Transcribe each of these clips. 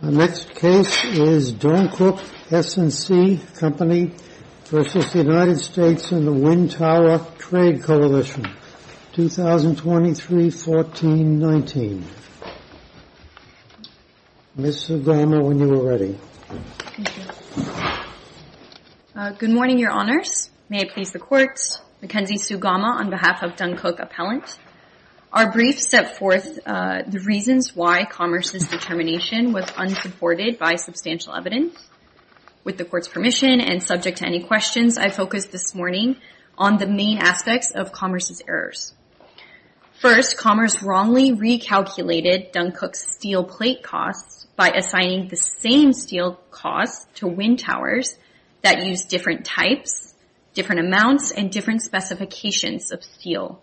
and the Wind Tower Trade Coalition, 2023-14-19, Ms. Sugama, when you are ready. Good morning, Your Honors. May it please the Court, Mackenzie Sugama on behalf of Dunkuk Appellant. Our brief set forth the reasons why Commerce's determination was unsupported by substantial evidence. With the Court's permission and subject to any questions, I focused this morning on the main aspects of Commerce's errors. First, Commerce wrongly recalculated Dunkuk's steel plate costs by assigning the same steel costs to wind towers that use different types, different amounts, and different specifications of steel.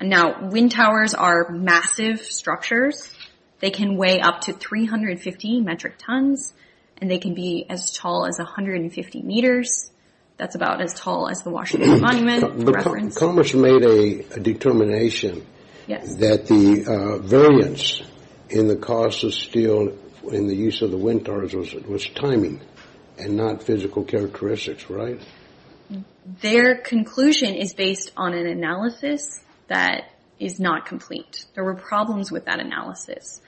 Now, wind towers are massive structures. They can weigh up to 350 metric tons, and they can be as tall as 150 meters. That's about as tall as the Washington Monument, for reference. Commerce made a determination that the variance in the cost of steel in the use of the wind towers was timing and not physical characteristics, right? Their conclusion is based on an analysis that is not complete. There were problems with that analysis.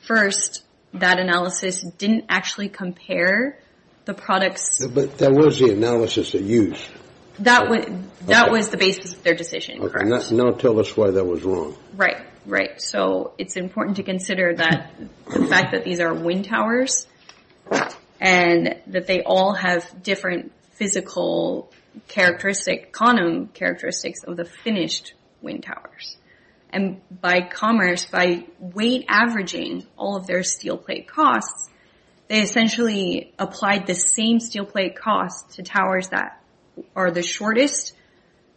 First, that analysis didn't actually compare the products... But that was the analysis they used. That was the basis of their decision, correct. Now tell us why that was wrong. Right, right. So, it's important to consider the fact that these are wind towers, and that they all have different physical characteristics, quantum characteristics of the finished wind towers. And by Commerce, by weight averaging all of their steel plate costs, they essentially applied the same steel plate costs to towers that are the shortest,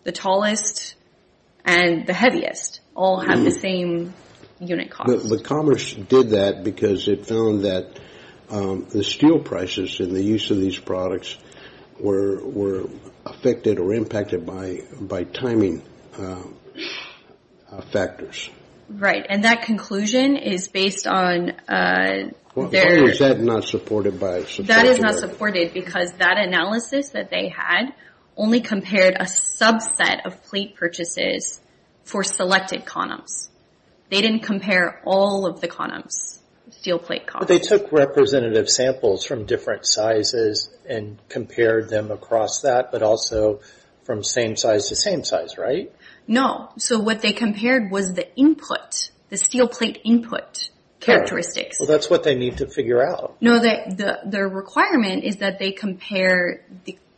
the tallest, and the heaviest, all have the same unit cost. But Commerce did that because it found that the steel prices in the use of these products were affected or impacted by timing factors. Right, and that conclusion is based on... Why was that not supported by... That is not supported because that analysis that they had only compared a subset of plate purchases for selected quantums. They didn't compare all of the quantums, steel plate costs. But they took representative samples from different sizes and compared them across that, but also from same size to same size, right? No. So what they compared was the input, the steel plate input characteristics. Well, that's what they need to figure out. No, their requirement is that they compare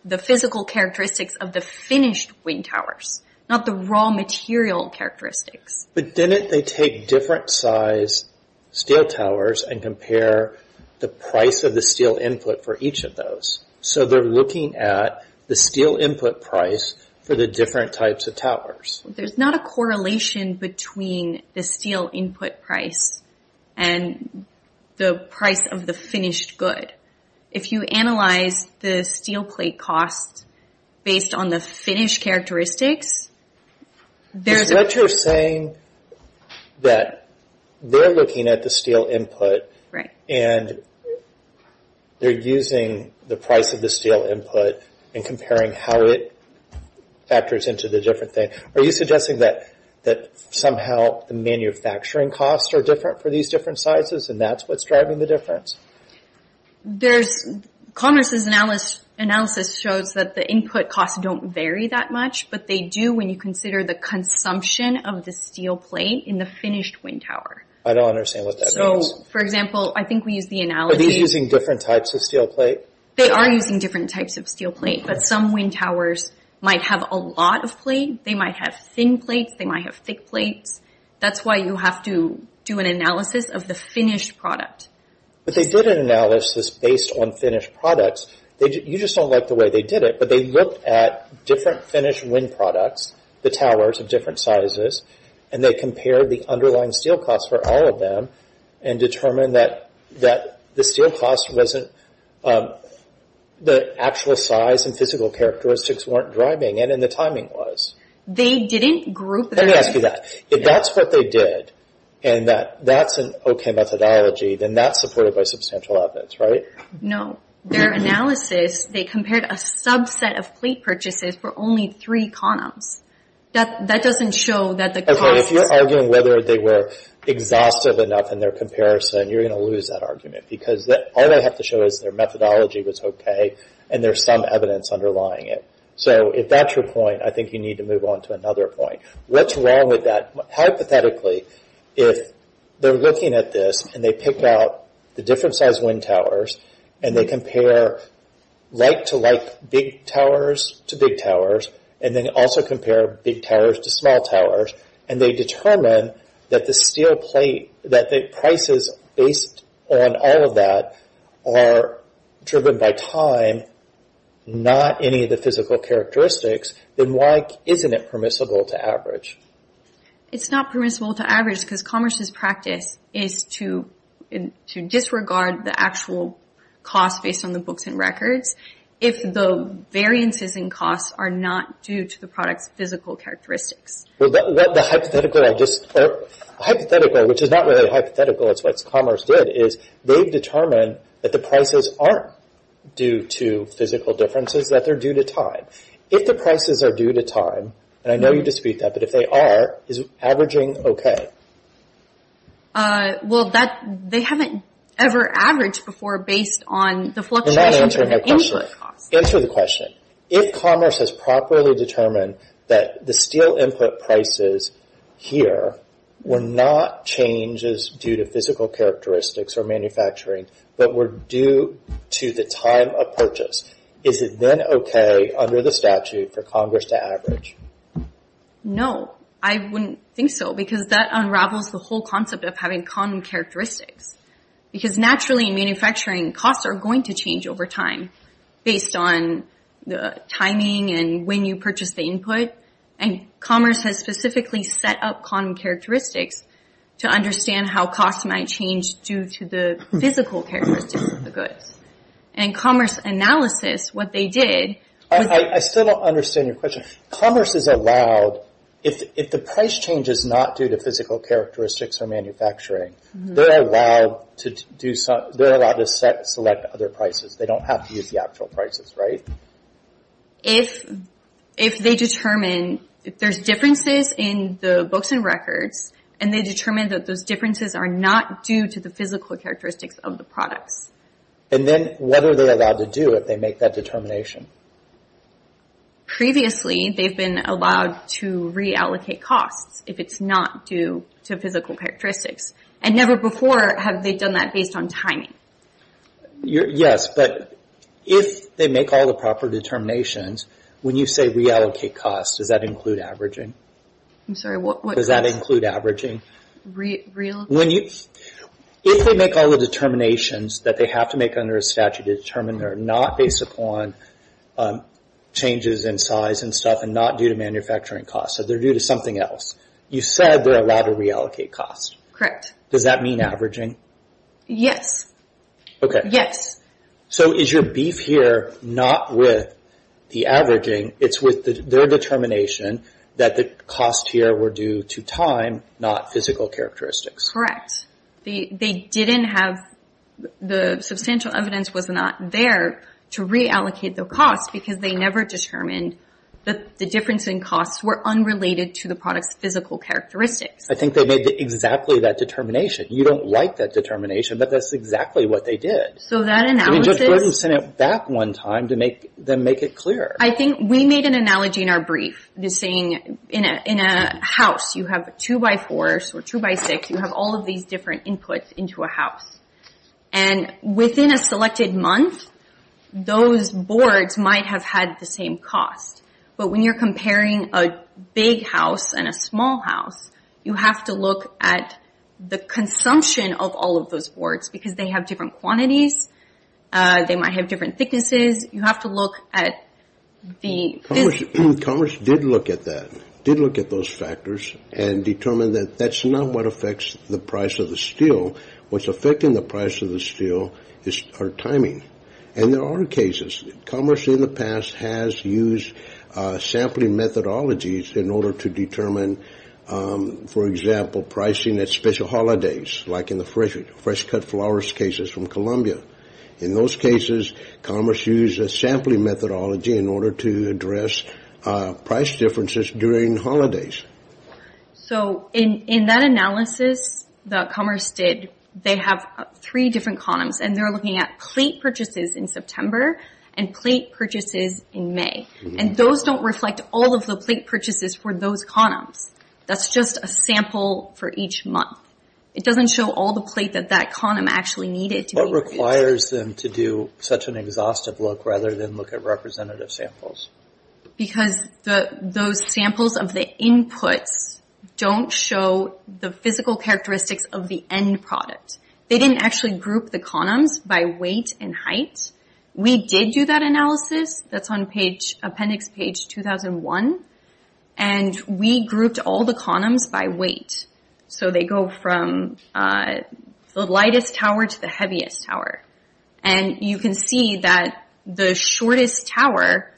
the physical characteristics of the finished wind towers, not the raw material characteristics. But didn't they take different size steel towers and compare the price of the steel input for each of those? So they're looking at the steel input price for the different types of towers. There's not a correlation between the steel input price and the price of the finished good. If you analyze the steel plate costs based on the finished characteristics, there's... But you're saying that they're looking at the steel input and they're using the price of the steel input and comparing how it factors into the different things. Are you suggesting that somehow the manufacturing costs are different for these different sizes and that's what's driving the difference? Converse's analysis shows that the input costs don't vary that much, but they do when you consider the consumption of the steel plate in the finished wind tower. I don't understand what that means. For example, I think we used the analysis... Are these using different types of steel plate? They are using different types of steel plate, but some wind towers might have a lot of plate. They might have thin plates. They might have thick plates. That's why you have to do an analysis of the finished product. But they did an analysis based on finished products. You just don't like the way they did it, but they looked at different finished wind products, the towers of different sizes, and they compared the underlying steel costs for all of them and determined that the actual size and physical characteristics weren't driving it and the timing was. They didn't group their... Let me ask you that. If that's what they did and that's an okay methodology, then that's supported by substantial outputs, right? No. Their analysis, they compared a subset of plate purchases for only three columns. That doesn't show that the cost... If you're arguing whether they were exhaustive enough in their comparison, you're going to lose that argument because all they have to show is their methodology was okay and there's some evidence underlying it. So if that's your point, I think you need to move on to another point. What's wrong with that? Hypothetically, if they're looking at this and they pick out the different size wind towers and they compare like-to-like big towers to big towers and then also compare big towers to small towers and they determine that the steel plate, that the prices based on all of that are driven by time, not any of the physical characteristics, then why isn't it permissible to average? It's not permissible to average because commerce's practice is to disregard the actual cost based on the books and records if the variances in costs are not due to the product's physical characteristics. Well, the hypothetical, which is not really a hypothetical, it's what commerce did, is they've determined that the prices aren't due to physical differences, that they're due to time. If the prices are due to time, and I know you dispute that, but if they are, is averaging okay? Well, they haven't ever averaged before based on the fluctuation of the input cost. Answer the question. If commerce has properly determined that the steel input prices here were not changes due to physical characteristics or manufacturing, but were due to the time of purchase, is it then okay under the statute for Congress to average? No, I wouldn't think so because that unravels the whole concept of having quantum characteristics. Because naturally in manufacturing, costs are going to change over time based on the timing and when you purchase the input, and commerce has specifically set up quantum characteristics to understand how costs might change due to the physical characteristics of the goods. In commerce analysis, what they did... I still don't understand your question. Commerce is allowed, if the price change is not due to physical characteristics or manufacturing, they're allowed to select other prices. They don't have to use the actual prices, right? If they determine, if there's differences in the books and records, and they determine that those differences are not due to the physical characteristics of the products. And then what are they allowed to do if they make that determination? Previously, they've been allowed to reallocate costs if it's not due to physical characteristics. And never before have they done that based on timing. Yes, but if they make all the proper determinations, when you say reallocate costs, does that include averaging? I'm sorry, what? Does that include averaging? Reallocate? If they make all the determinations that they have to make under a statute to determine they're not based upon changes in size and stuff, and not due to manufacturing costs, so they're due to something else, you said they're allowed to reallocate costs. Correct. Does that mean averaging? Yes. Okay. Yes. So is your beef here not with the averaging? It's with their determination that the costs here were due to time, not physical characteristics. Correct. They didn't have, the substantial evidence was not there to reallocate the costs because they never determined that the difference in costs were unrelated to the product's physical characteristics. I think they made exactly that determination. You don't like that determination, but that's exactly what they did. So that analysis... I mean, Judge Gordon sent it back one time to make them make it clear. I think we made an analogy in our brief, saying in a house you have a two by four, or two by six, you have all of these different inputs into a house. And within a selected month, those boards might have had the same cost. But when you're comparing a big house and a small house, you have to look at the consumption of all of those boards because they have different quantities, they might have different thicknesses, you have to look at the... Commerce did look at that, did look at those factors, and determined that that's not what affects the price of the steel, what's affecting the price of the steel is our timing. And there are cases, commerce in the past has used sampling methodologies in order to determine, for example, pricing at special holidays, like in the fresh cut flowers cases from Columbia. In those cases, commerce used a sampling methodology in order to address price differences during holidays. So in that analysis that commerce did, they have three different condoms, and they're looking at plate purchases in September, and plate purchases in May. And those don't reflect all of the plate purchases for those condoms. That's just a sample for each month. It doesn't show all the plate that that condom actually needed to be... What requires them to do such an exhaustive look rather than look at representative samples? Because those samples of the inputs don't show the physical characteristics of the end product. They didn't actually group the condoms by weight and height. We did do that analysis, that's on appendix page 2001, and we grouped all the condoms by weight. So they go from the lightest tower to the heaviest tower. And you can see that the shortest tower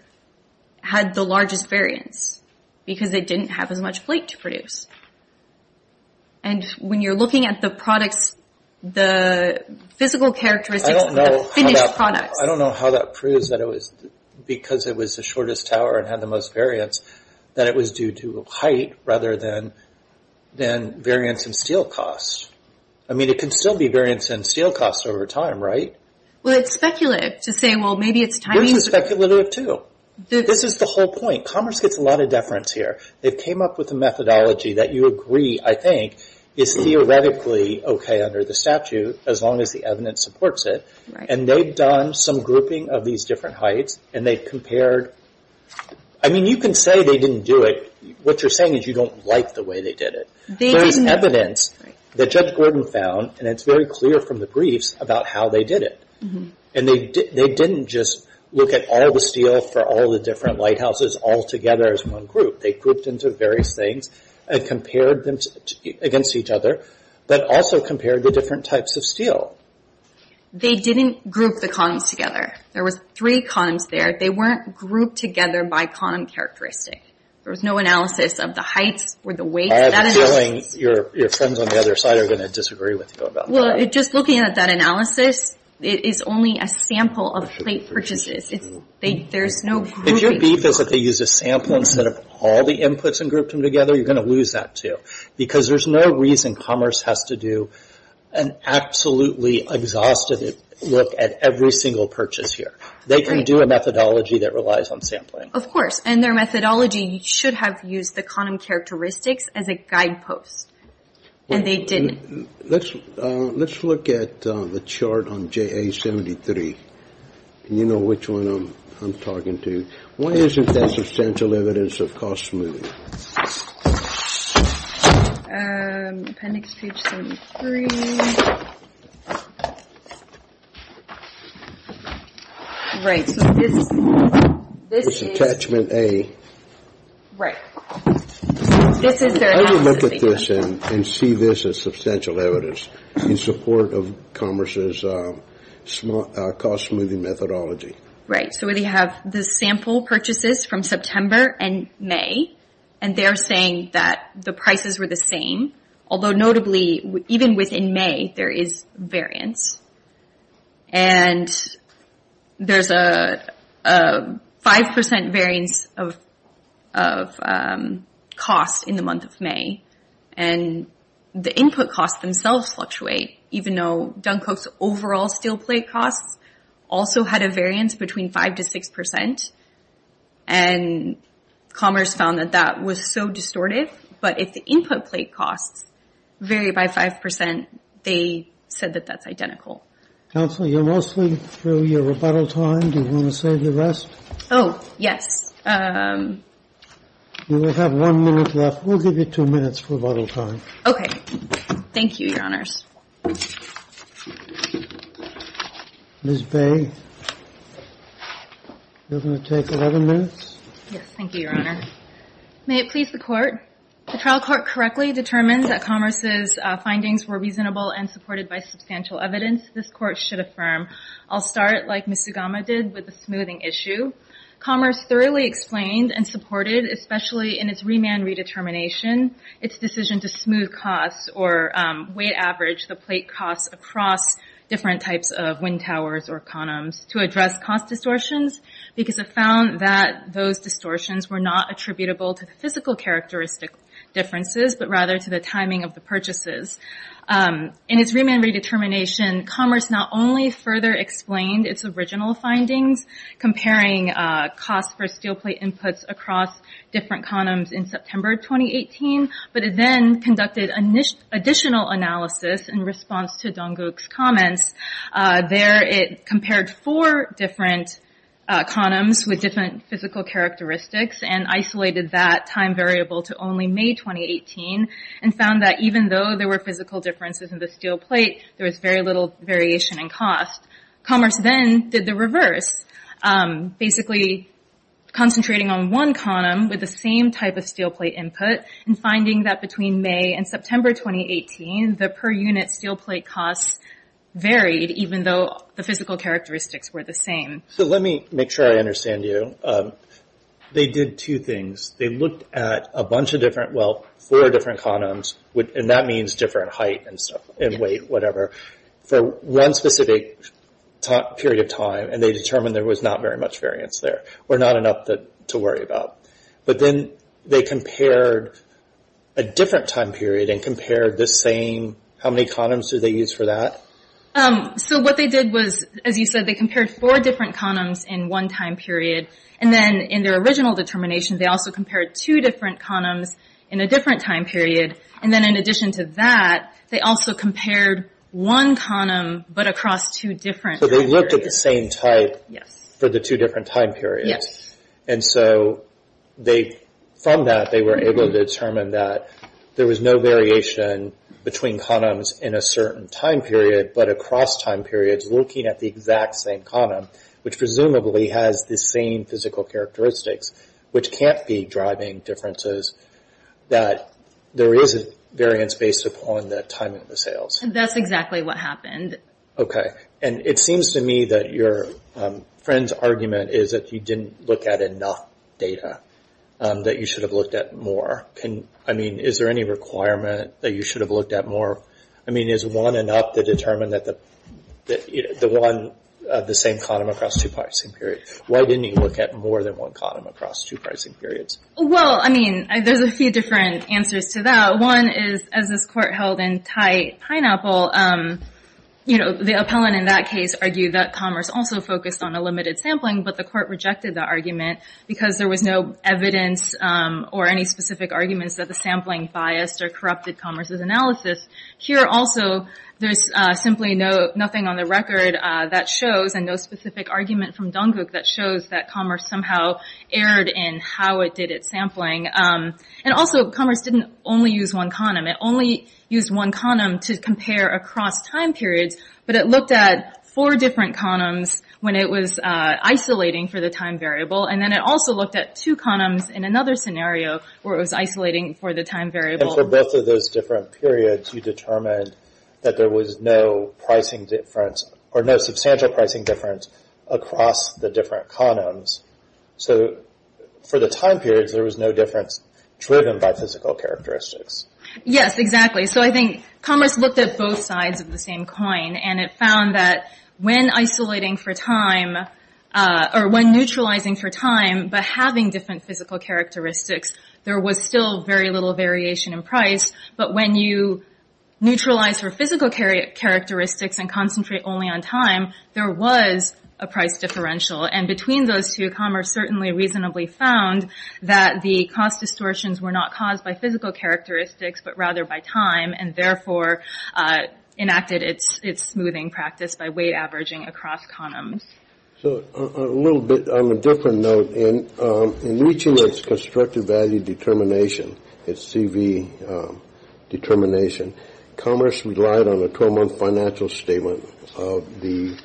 had the largest variance, because it didn't have as much plate to produce. And when you're looking at the products, the physical characteristics of the finished products... I don't know how that proves that it was... Because it was the shortest tower and had the most variance, that it was due to height rather than variance in steel cost. I mean, it can still be variance in steel cost over time, right? Well, it's speculative to say, well, maybe it's timing... Which is speculative too. This is the whole point. Commerce gets a lot of deference here. They came up with a methodology that you agree, I think, is theoretically okay under the statute as long as the evidence supports it. And they've done some grouping of these different heights, and they've compared... I mean, you can say they didn't do it. What you're saying is you don't like the way they did it. There is evidence that Judge Gordon found, and it's very clear from the briefs about how they did it. And they didn't just look at all the steel for all the different lighthouses all together as one group. They grouped into various things and compared them against each other, but also compared the different types of steel. They didn't group the columns together. There was three columns there. They weren't grouped together by column characteristic. There was no analysis of the heights or the weights. I have a feeling your friends on the other side are going to disagree with you about Well, just looking at that analysis, it is only a sample of plate purchases. There's no grouping. If your beef is that they used a sample instead of all the inputs and grouped them together, you're going to lose that too. Because there's no reason commerce has to do an absolutely exhaustive look at every single purchase here. They can do a methodology that relies on sampling. Of course. And their methodology should have used the column characteristics as a guidepost. And they didn't. Let's look at the chart on JA-73. You know which one I'm talking to. Why isn't there substantial evidence of cost smoothing? Appendix page 73. Right. This is attachment A. Right. This is their analysis. Let me look at this and see this as substantial evidence in support of commerce's cost smoothing methodology. Right. So we have the sample purchases from September and May. And they're saying that the prices were the same. Although notably, even within May, there is variance. And there's a 5% variance of cost in the month of May. And the input costs themselves fluctuate. Even though Dunko's overall steel plate costs also had a variance between 5 to 6%. And commerce found that that was so distortive. But if the input plate costs vary by 5%, they said that that's identical. Counsel, you're mostly through your rebuttal time. Do you want to save the rest? Oh, yes. You have one minute left. We'll give you two minutes for rebuttal time. Okay. Thank you, Your Honors. Ms. Bay, you're going to take 11 minutes. Yes, thank you, Your Honor. May it please the Court. The trial court correctly determined that commerce's findings were reasonable and supported by substantial evidence. This Court should affirm. I'll start, like Ms. Sugama did, with the smoothing issue. Commerce thoroughly explained and supported, especially in its remand redetermination, its decision to smooth costs or weight average the plate costs across different types of wind towers or condoms to address cost distortions because it found that those distortions were not attributable to the physical characteristic differences, but rather to the timing of the purchases. In its remand redetermination, commerce not only further explained its original findings, comparing costs for steel plate inputs across different condoms in September 2018, but it then conducted additional analysis in response to Donggook's comments. There, it compared four different condoms with different physical characteristics and isolated that time variable to only May 2018, and found that even though there were physical differences in the steel plate, there was very little variation in cost. Commerce then did the reverse, basically concentrating on one condom with the same type of steel plate input and finding that between May and September 2018, the per unit steel plate costs varied, even though the physical characteristics were the same. Let me make sure I understand you. They did two things. They looked at a bunch of different, well, four different condoms, and that means different height and stuff, and weight, whatever, for one specific period of time, and they determined there was not very much variance there, or not enough to worry about. But then they compared a different time period and compared the same, how many condoms did they use for that? So what they did was, as you said, they compared four different condoms in one time period, and then in their original determination, they also compared two different condoms in a different time period, and then in addition to that, they also compared one condom but across two different periods. So they looked at the same type for the two different time periods. Yes. And so from that, they were able to determine that there was no variation between condoms in a certain time period, but across time periods, looking at the exact same condom, which presumably has the same physical characteristics, which can't be driving differences, that there is a variance based upon the time of the sales. That's exactly what happened. Okay. And it seems to me that your friend's argument is that you didn't look at enough data, that you should have looked at more. I mean, is there any requirement that you should have looked at more? I mean, is one enough to determine that the one, the same condom across two pricing periods? Why didn't you look at more than one condom across two pricing periods? Well, I mean, there's a few different answers to that. One is, as this court held in Thai Pineapple, the appellant in that case argued that Commerce also focused on a limited sampling, but the court rejected that argument because there was no evidence or any specific arguments that the sampling biased or corrupted Commerce's analysis. Here also, there's simply nothing on the record that shows, and no specific argument from Dungook that shows that Commerce somehow erred in how it did its sampling. And also, Commerce didn't only use one condom. It only used one condom to compare across time periods, but it looked at four different condoms when it was isolating for the time variable, and then it also looked at two condoms in another scenario where it was isolating for the time variable. And for both of those different periods, you determined that there was no pricing difference or no substantial pricing difference across the different condoms. So for the time periods, there was no difference driven by physical characteristics. Yes, exactly. So I think Commerce looked at both sides of the same coin, and it found that when isolating for time, or when neutralizing for time, but having different physical characteristics, there was still very little variation in price. But when you neutralize for physical characteristics and concentrate only on time, there was a price differential. And between those two, Commerce certainly reasonably found that the cost distortions were not caused by physical characteristics, but rather by time, and therefore enacted its smoothing practice by weight averaging across condoms. So a little bit on a different note, in reaching its constructive value determination, its CV determination, Commerce relied on a 12-month financial statement of the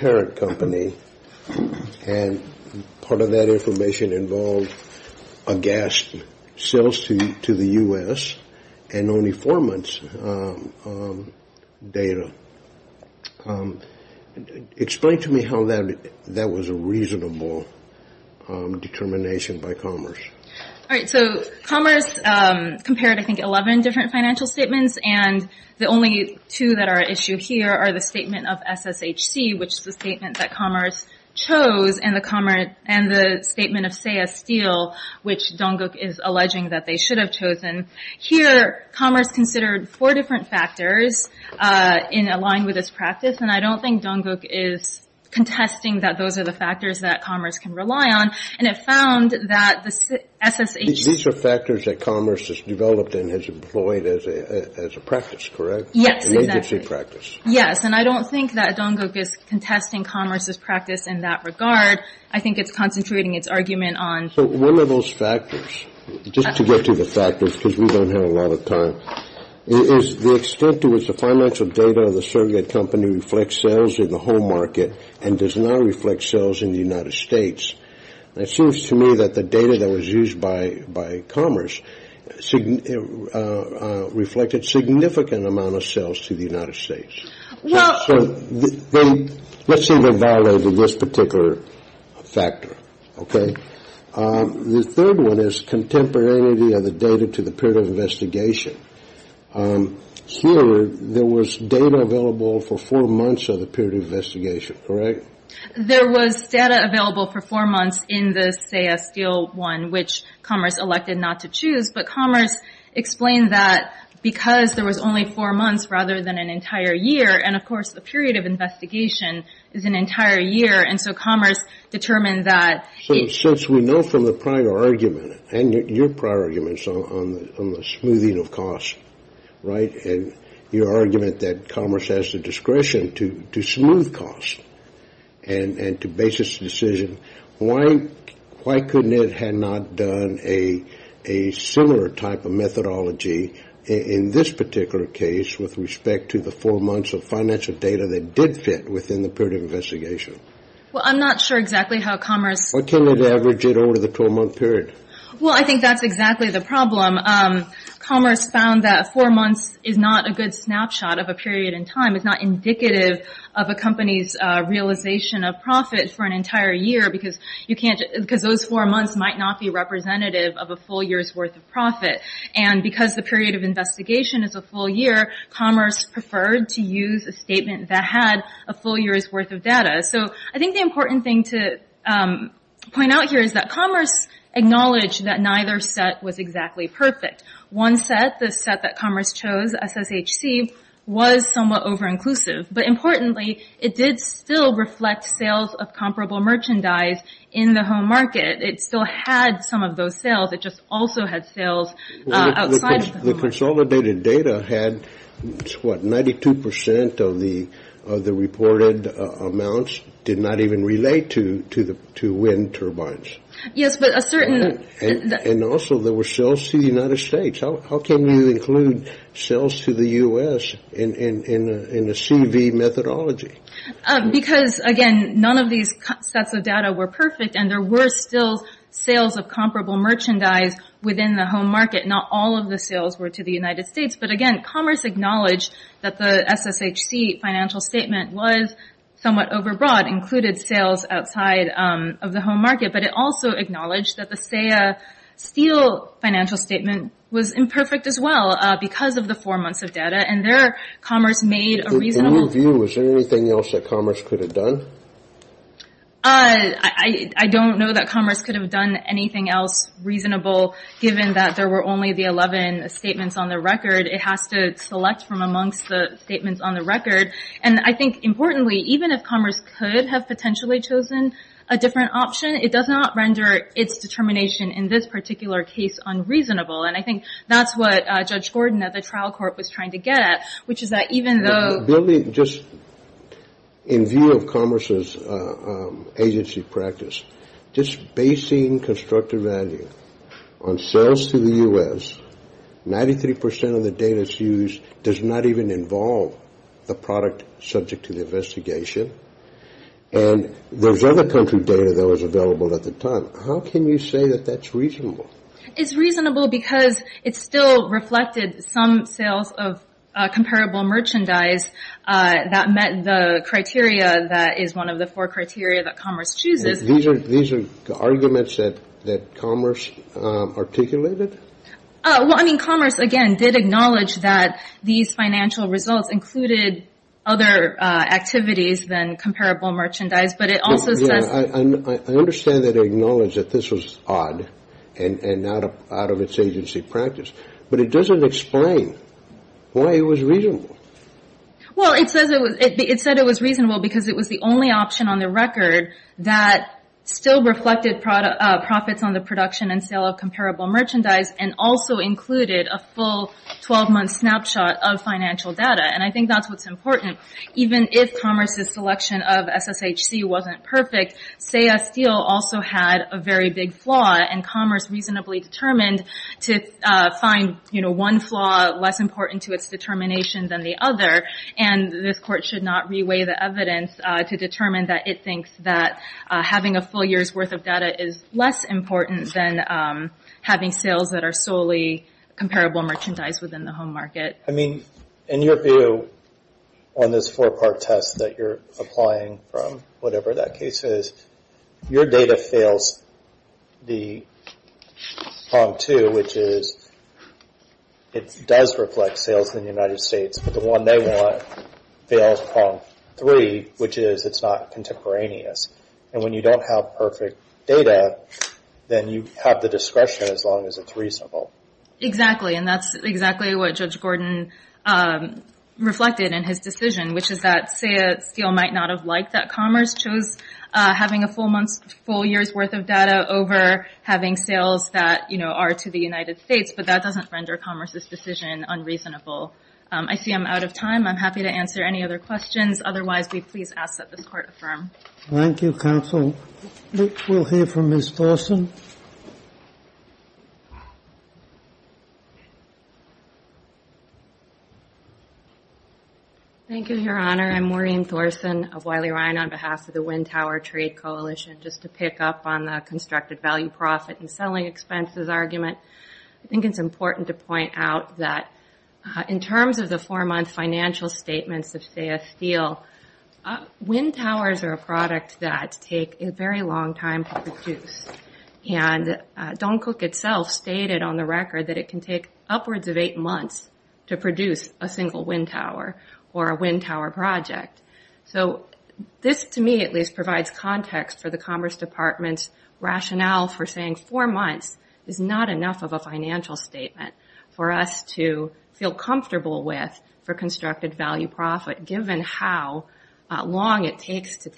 parent company, and part of that information involved aghast sales to the U.S. and only four months data. Explain to me how that was a reasonable determination by Commerce. All right, so Commerce compared, I think, 11 different financial statements, and the only two that are at issue here are the statement of SSHC, which is the statement that Commerce chose, and the statement of Seya Steel, which Donggook is alleging that they should have chosen. Here, Commerce considered four different factors in aligning with this practice, and I don't think Donggook is contesting that those are the factors that Commerce can rely on. And it found that the SSHC ---- These are factors that Commerce has developed and has employed as a practice, correct? Yes, exactly. An agency practice. Yes, and I don't think that Donggook is contesting Commerce's practice in that regard. I think it's concentrating its argument on ---- But one of those factors, just to get to the factors, because we don't have a lot of time, is the extent to which the financial data of the surrogate company reflects sales in the home market and does not reflect sales in the United States. It seems to me that the data that was used by Commerce reflected significant amount of sales to the United States. Well ---- So let's say they violated this particular factor, okay? The third one is contemporaneity of the data to the period of investigation. Here, there was data available for four months of the period of investigation, correct? There was data available for four months in the, say, a steel one, which Commerce elected not to choose, but Commerce explained that because there was only four months rather than an entire year, and, of course, the period of investigation is an entire year, and so Commerce determined that ---- So since we know from the prior argument and your prior arguments on the smoothing of costs, right, and your argument that Commerce has the discretion to smooth costs and to base its decision, why couldn't it have not done a similar type of methodology in this particular case with respect to the four months of financial data that did fit within the period of investigation? Well, I'm not sure exactly how Commerce ---- Why can't it average it over the 12-month period? Well, I think that's exactly the problem. Commerce found that four months is not a good snapshot of a period in time. It's not indicative of a company's realization of profit for an entire year because those four months might not be representative of a full year's worth of profit. And because the period of investigation is a full year, Commerce preferred to use a statement that had a full year's worth of data. So I think the important thing to point out here is that Commerce acknowledged that neither set was exactly perfect. One set, the set that Commerce chose, SSHC, was somewhat over-inclusive. But importantly, it did still reflect sales of comparable merchandise in the home market. It still had some of those sales. It just also had sales outside of the home market. The consolidated data had, what, 92 percent of the reported amounts did not even relate to wind turbines. Yes, but a certain ---- And also there were sales to the United States. How can you include sales to the U.S. in a CV methodology? Because, again, none of these sets of data were perfect, and there were still sales of comparable merchandise within the home market. Not all of the sales were to the United States. But, again, Commerce acknowledged that the SSHC financial statement was somewhat over-broad, included sales outside of the home market. But it also acknowledged that the SAIA steel financial statement was imperfect as well because of the four months of data. And there, Commerce made a reasonable ---- In your view, was there anything else that Commerce could have done? I don't know that Commerce could have done anything else reasonable, given that there were only the 11 statements on the record. It has to select from amongst the statements on the record. And I think, importantly, even if Commerce could have potentially chosen a different option, it does not render its determination in this particular case unreasonable. And I think that's what Judge Gordon at the trial court was trying to get at, which is that even though ---- In view of Commerce's agency practice, just basing constructive value on sales to the U.S., 93 percent of the data that's used does not even involve the product subject to the investigation. And there was other country data that was available at the time. How can you say that that's reasonable? It's reasonable because it still reflected some sales of comparable merchandise that met the criteria that is one of the four criteria that Commerce chooses. These are arguments that Commerce articulated? Well, I mean, Commerce, again, did acknowledge that these financial results included other activities than comparable merchandise. But it also says ---- I understand that it acknowledged that this was odd and not out of its agency practice. But it doesn't explain why it was reasonable. Well, it said it was reasonable because it was the only option on the record that still reflected profits on the production and sale of comparable merchandise and also included a full 12-month snapshot of financial data. And I think that's what's important. Even if Commerce's selection of SSHC wasn't perfect, SAIA Steel also had a very big flaw. And Commerce reasonably determined to find one flaw less important to its determination than the other. And this Court should not reweigh the evidence to determine that it thinks that having a full year's worth of data is less important than having sales that are solely comparable merchandise within the home market. I mean, in your view, on this four-part test that you're applying from whatever that case is, your data fails the prong two, which is it does reflect sales in the United States. But the one they want fails prong three, which is it's not contemporaneous. And when you don't have perfect data, then you have the discretion as long as it's reasonable. Exactly. And that's exactly what Judge Gordon reflected in his decision, which is that SAIA Steel might not have liked that Commerce chose having a full year's worth of data over having sales that are to the United States, but that doesn't render Commerce's decision unreasonable. I see I'm out of time. I'm happy to answer any other questions. Otherwise, we please ask that this Court affirm. Thank you, counsel. We'll hear from Ms. Thorsen. Thank you, Your Honor. I'm Maureen Thorsen of Wiley-Ryan on behalf of the Wind Tower Trade Coalition. Just to pick up on the constructed value-profit and selling expenses argument, I think it's important to point out that in terms of the four-month financial statements of SAIA Steel, wind towers are a product that take a very long time to produce. And Don Cook itself stated on the record that it can take upwards of eight months to produce a single wind tower or a wind tower project. So this, to me at least, provides context for the Commerce Department's rationale for saying four months is not enough of a financial statement for us to feel comfortable with for constructed value-profit given how long it takes to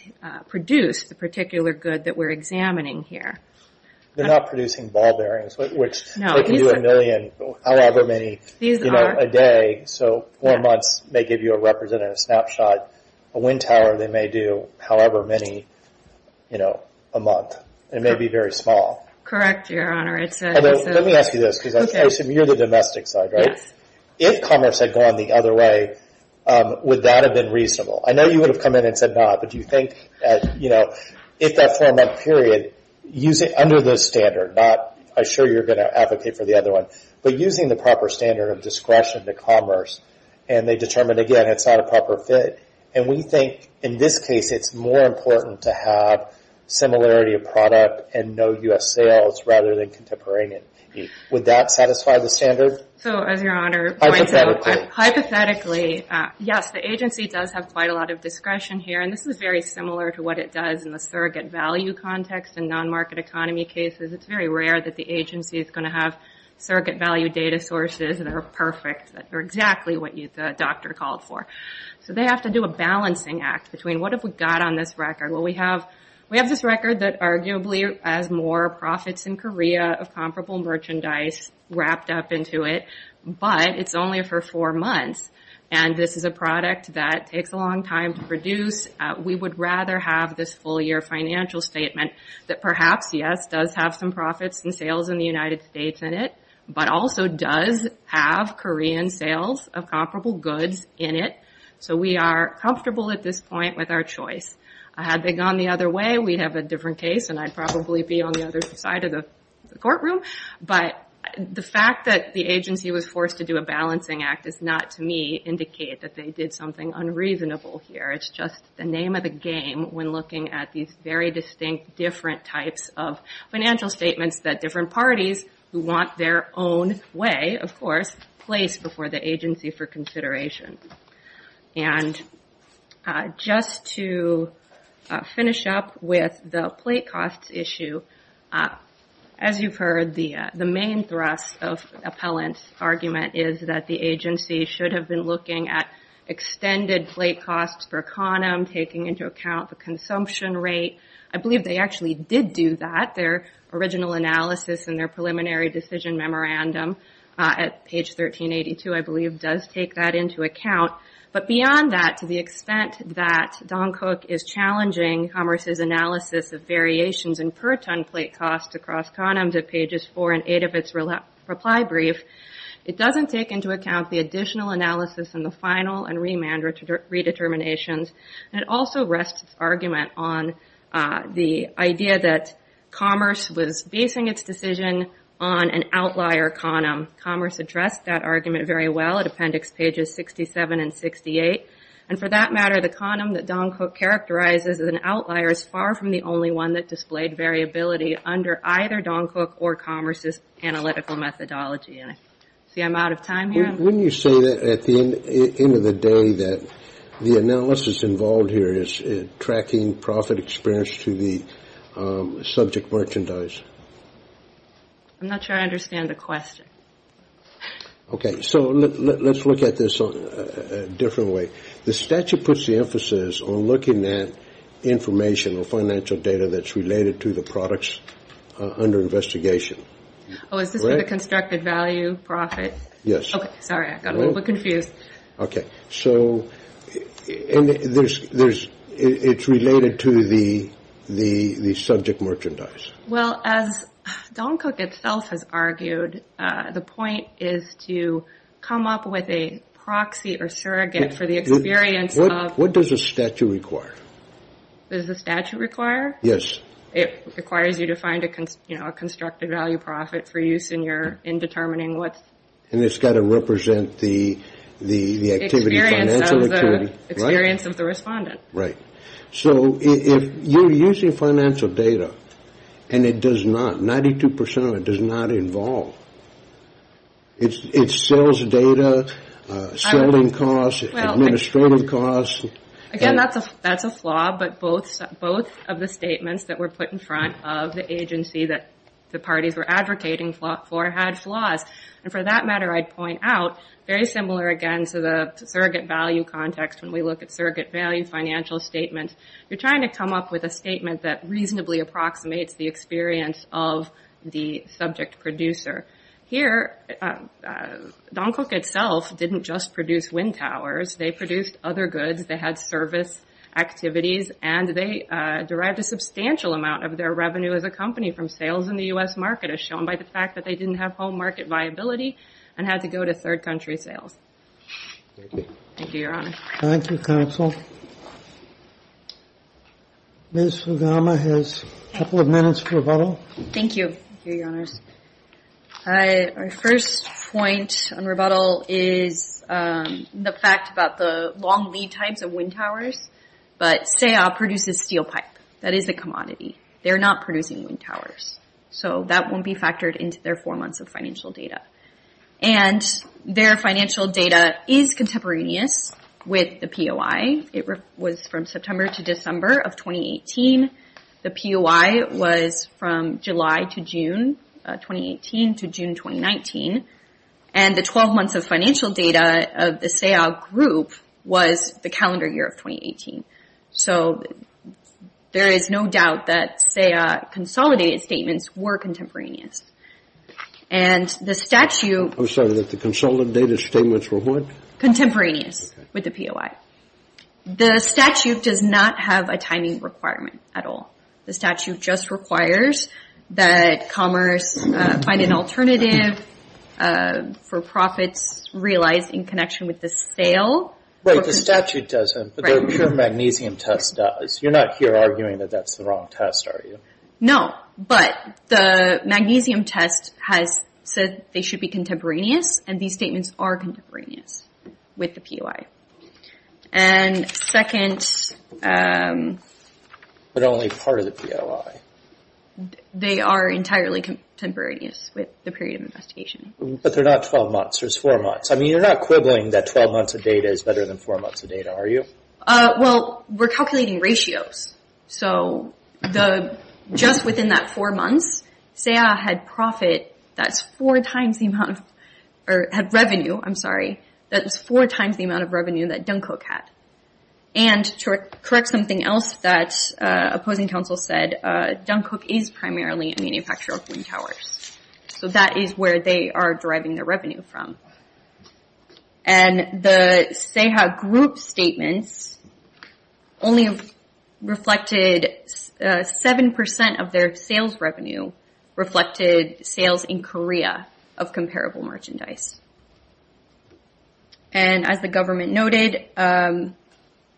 produce the particular good that we're examining here. They're not producing ball bearings, which they can do a million, however many a day. So four months may give you a representative snapshot. A wind tower they may do however many a month. It may be very small. Correct, Your Honor. Let me ask you this, because I assume you're the domestic side, right? Yes. If commerce had gone the other way, would that have been reasonable? I know you would have come in and said not, but do you think that if that four-month period, under the standard, I'm sure you're going to advocate for the other one, but using the proper standard of discretion to commerce, and they determined again it's not a proper fit, and we think in this case it's more important to have similarity of product and no U.S. sales rather than contemporaneous. Would that satisfy the standard? So as Your Honor pointed out, hypothetically, yes, the agency does have quite a lot of discretion here, and this is very similar to what it does in the surrogate value context in non-market economy cases. It's very rare that the agency is going to have surrogate value data sources that are perfect, that are exactly what the doctor called for. So they have to do a balancing act between what have we got on this record. Well, we have this record that arguably has more profits in Korea of comparable merchandise wrapped up into it, but it's only for four months, and this is a product that takes a long time to produce. We would rather have this full-year financial statement that perhaps, yes, does have some profits and sales in the United States in it, but also does have Korean sales of comparable goods in it, so we are comfortable at this point with our choice. Had they gone the other way, we'd have a different case, and I'd probably be on the other side of the courtroom, but the fact that the agency was forced to do a balancing act does not, to me, indicate that they did something unreasonable here. It's just the name of the game when looking at these very distinct different types of financial statements that different parties who want their own way, of course, place before the agency for consideration. And just to finish up with the plate costs issue, as you've heard, the main thrust of Appellant's argument is that the agency should have been looking at extended plate costs per conum, taking into account the consumption rate. I believe they actually did do that. Their original analysis in their preliminary decision memorandum at page 1382, I believe, does take that into account, but beyond that, to the extent that Don Cook is challenging Commerce's analysis of variations in per ton plate costs across conums at pages 4 and 8 of its reply brief, it doesn't take into account the additional analysis in the final and remand redeterminations, and it also rests its argument on the idea that Commerce was basing its decision on an outlier conum. Commerce addressed that argument very well at appendix pages 67 and 68. And for that matter, the conum that Don Cook characterizes as an outlier is far from the only one that displayed variability under either Don Cook or Commerce's analytical methodology. And I see I'm out of time here. Wouldn't you say that at the end of the day that the analysis involved here is tracking profit experience to the subject merchandise? I'm not sure I understand the question. Okay. So let's look at this a different way. The statute puts the emphasis on looking at information or financial data that's related to the products under investigation. Oh, is this for the constructed value profit? Yes. Okay. Sorry, I got a little bit confused. Okay. So it's related to the subject merchandise. Well, as Don Cook itself has argued, the point is to come up with a proxy or surrogate for the experience of. What does the statute require? Does the statute require? Yes. It requires you to find a constructed value profit for use in determining what. And it's got to represent the activity, financial activity. Experience of the respondent. Right. So if you're using financial data and it does not, 92 percent of it does not involve, it sells data, selling costs, administrative costs. Again, that's a flaw, but both of the statements that were put in front of the agency that the parties were advocating for had flaws. And for that matter, I'd point out, very similar again to the surrogate value context when we look at surrogate value financial statements. You're trying to come up with a statement that reasonably approximates the experience of the subject producer. Here, Don Cook itself didn't just produce wind towers. They produced other goods. They had service activities. And they derived a substantial amount of their revenue as a company from sales in the U.S. market as shown by the fact that they didn't have home market viability and had to go to third country sales. Thank you, Your Honor. Thank you, Counsel. Ms. Fugama has a couple of minutes for rebuttal. Thank you. Thank you, Your Honors. Our first point on rebuttal is the fact about the long lead types of wind towers. But SEA produces steel pipe. That is a commodity. They're not producing wind towers. So that won't be factored into their four months of financial data. And their financial data is contemporaneous with the POI. It was from September to December of 2018. The POI was from July to June 2018 to June 2019. And the 12 months of financial data of the SEA group was the calendar year of 2018. So there is no doubt that SEA consolidated statements were contemporaneous. And the statute... I'm sorry, that the consolidated statements were what? Contemporaneous with the POI. The statute does not have a timing requirement at all. The statute just requires that Commerce find an alternative for profits realized in connection with the sale. Wait, the statute doesn't, but the pure magnesium test does. You're not here arguing that that's the wrong test, are you? No, but the magnesium test has said they should be contemporaneous, and these statements are contemporaneous with the POI. And second... But only part of the POI. They are entirely contemporaneous with the period of investigation. But they're not 12 months, there's four months. I mean, you're not quibbling that 12 months of data is better than four months of data, are you? Well, we're calculating ratios. So just within that four months, SEA had revenue that was four times the amount of revenue that Dunkirk had. And to correct something else that opposing counsel said, Dunkirk is primarily a manufacturer of wind towers. So that is where they are deriving their revenue from. And the SEHA group statements only reflected... 7% of their sales revenue reflected sales in Korea of comparable merchandise. And as the government noted,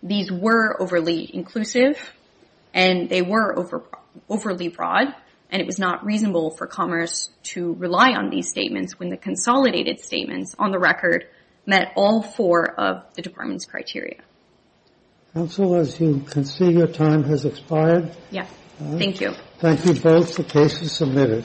these were overly inclusive, and they were overly broad, and it was not reasonable for Commerce to rely on these statements when the consolidated statements on the record met all four of the department's criteria. Counsel, as you can see, your time has expired. Yes, thank you. Thank you both for cases submitted.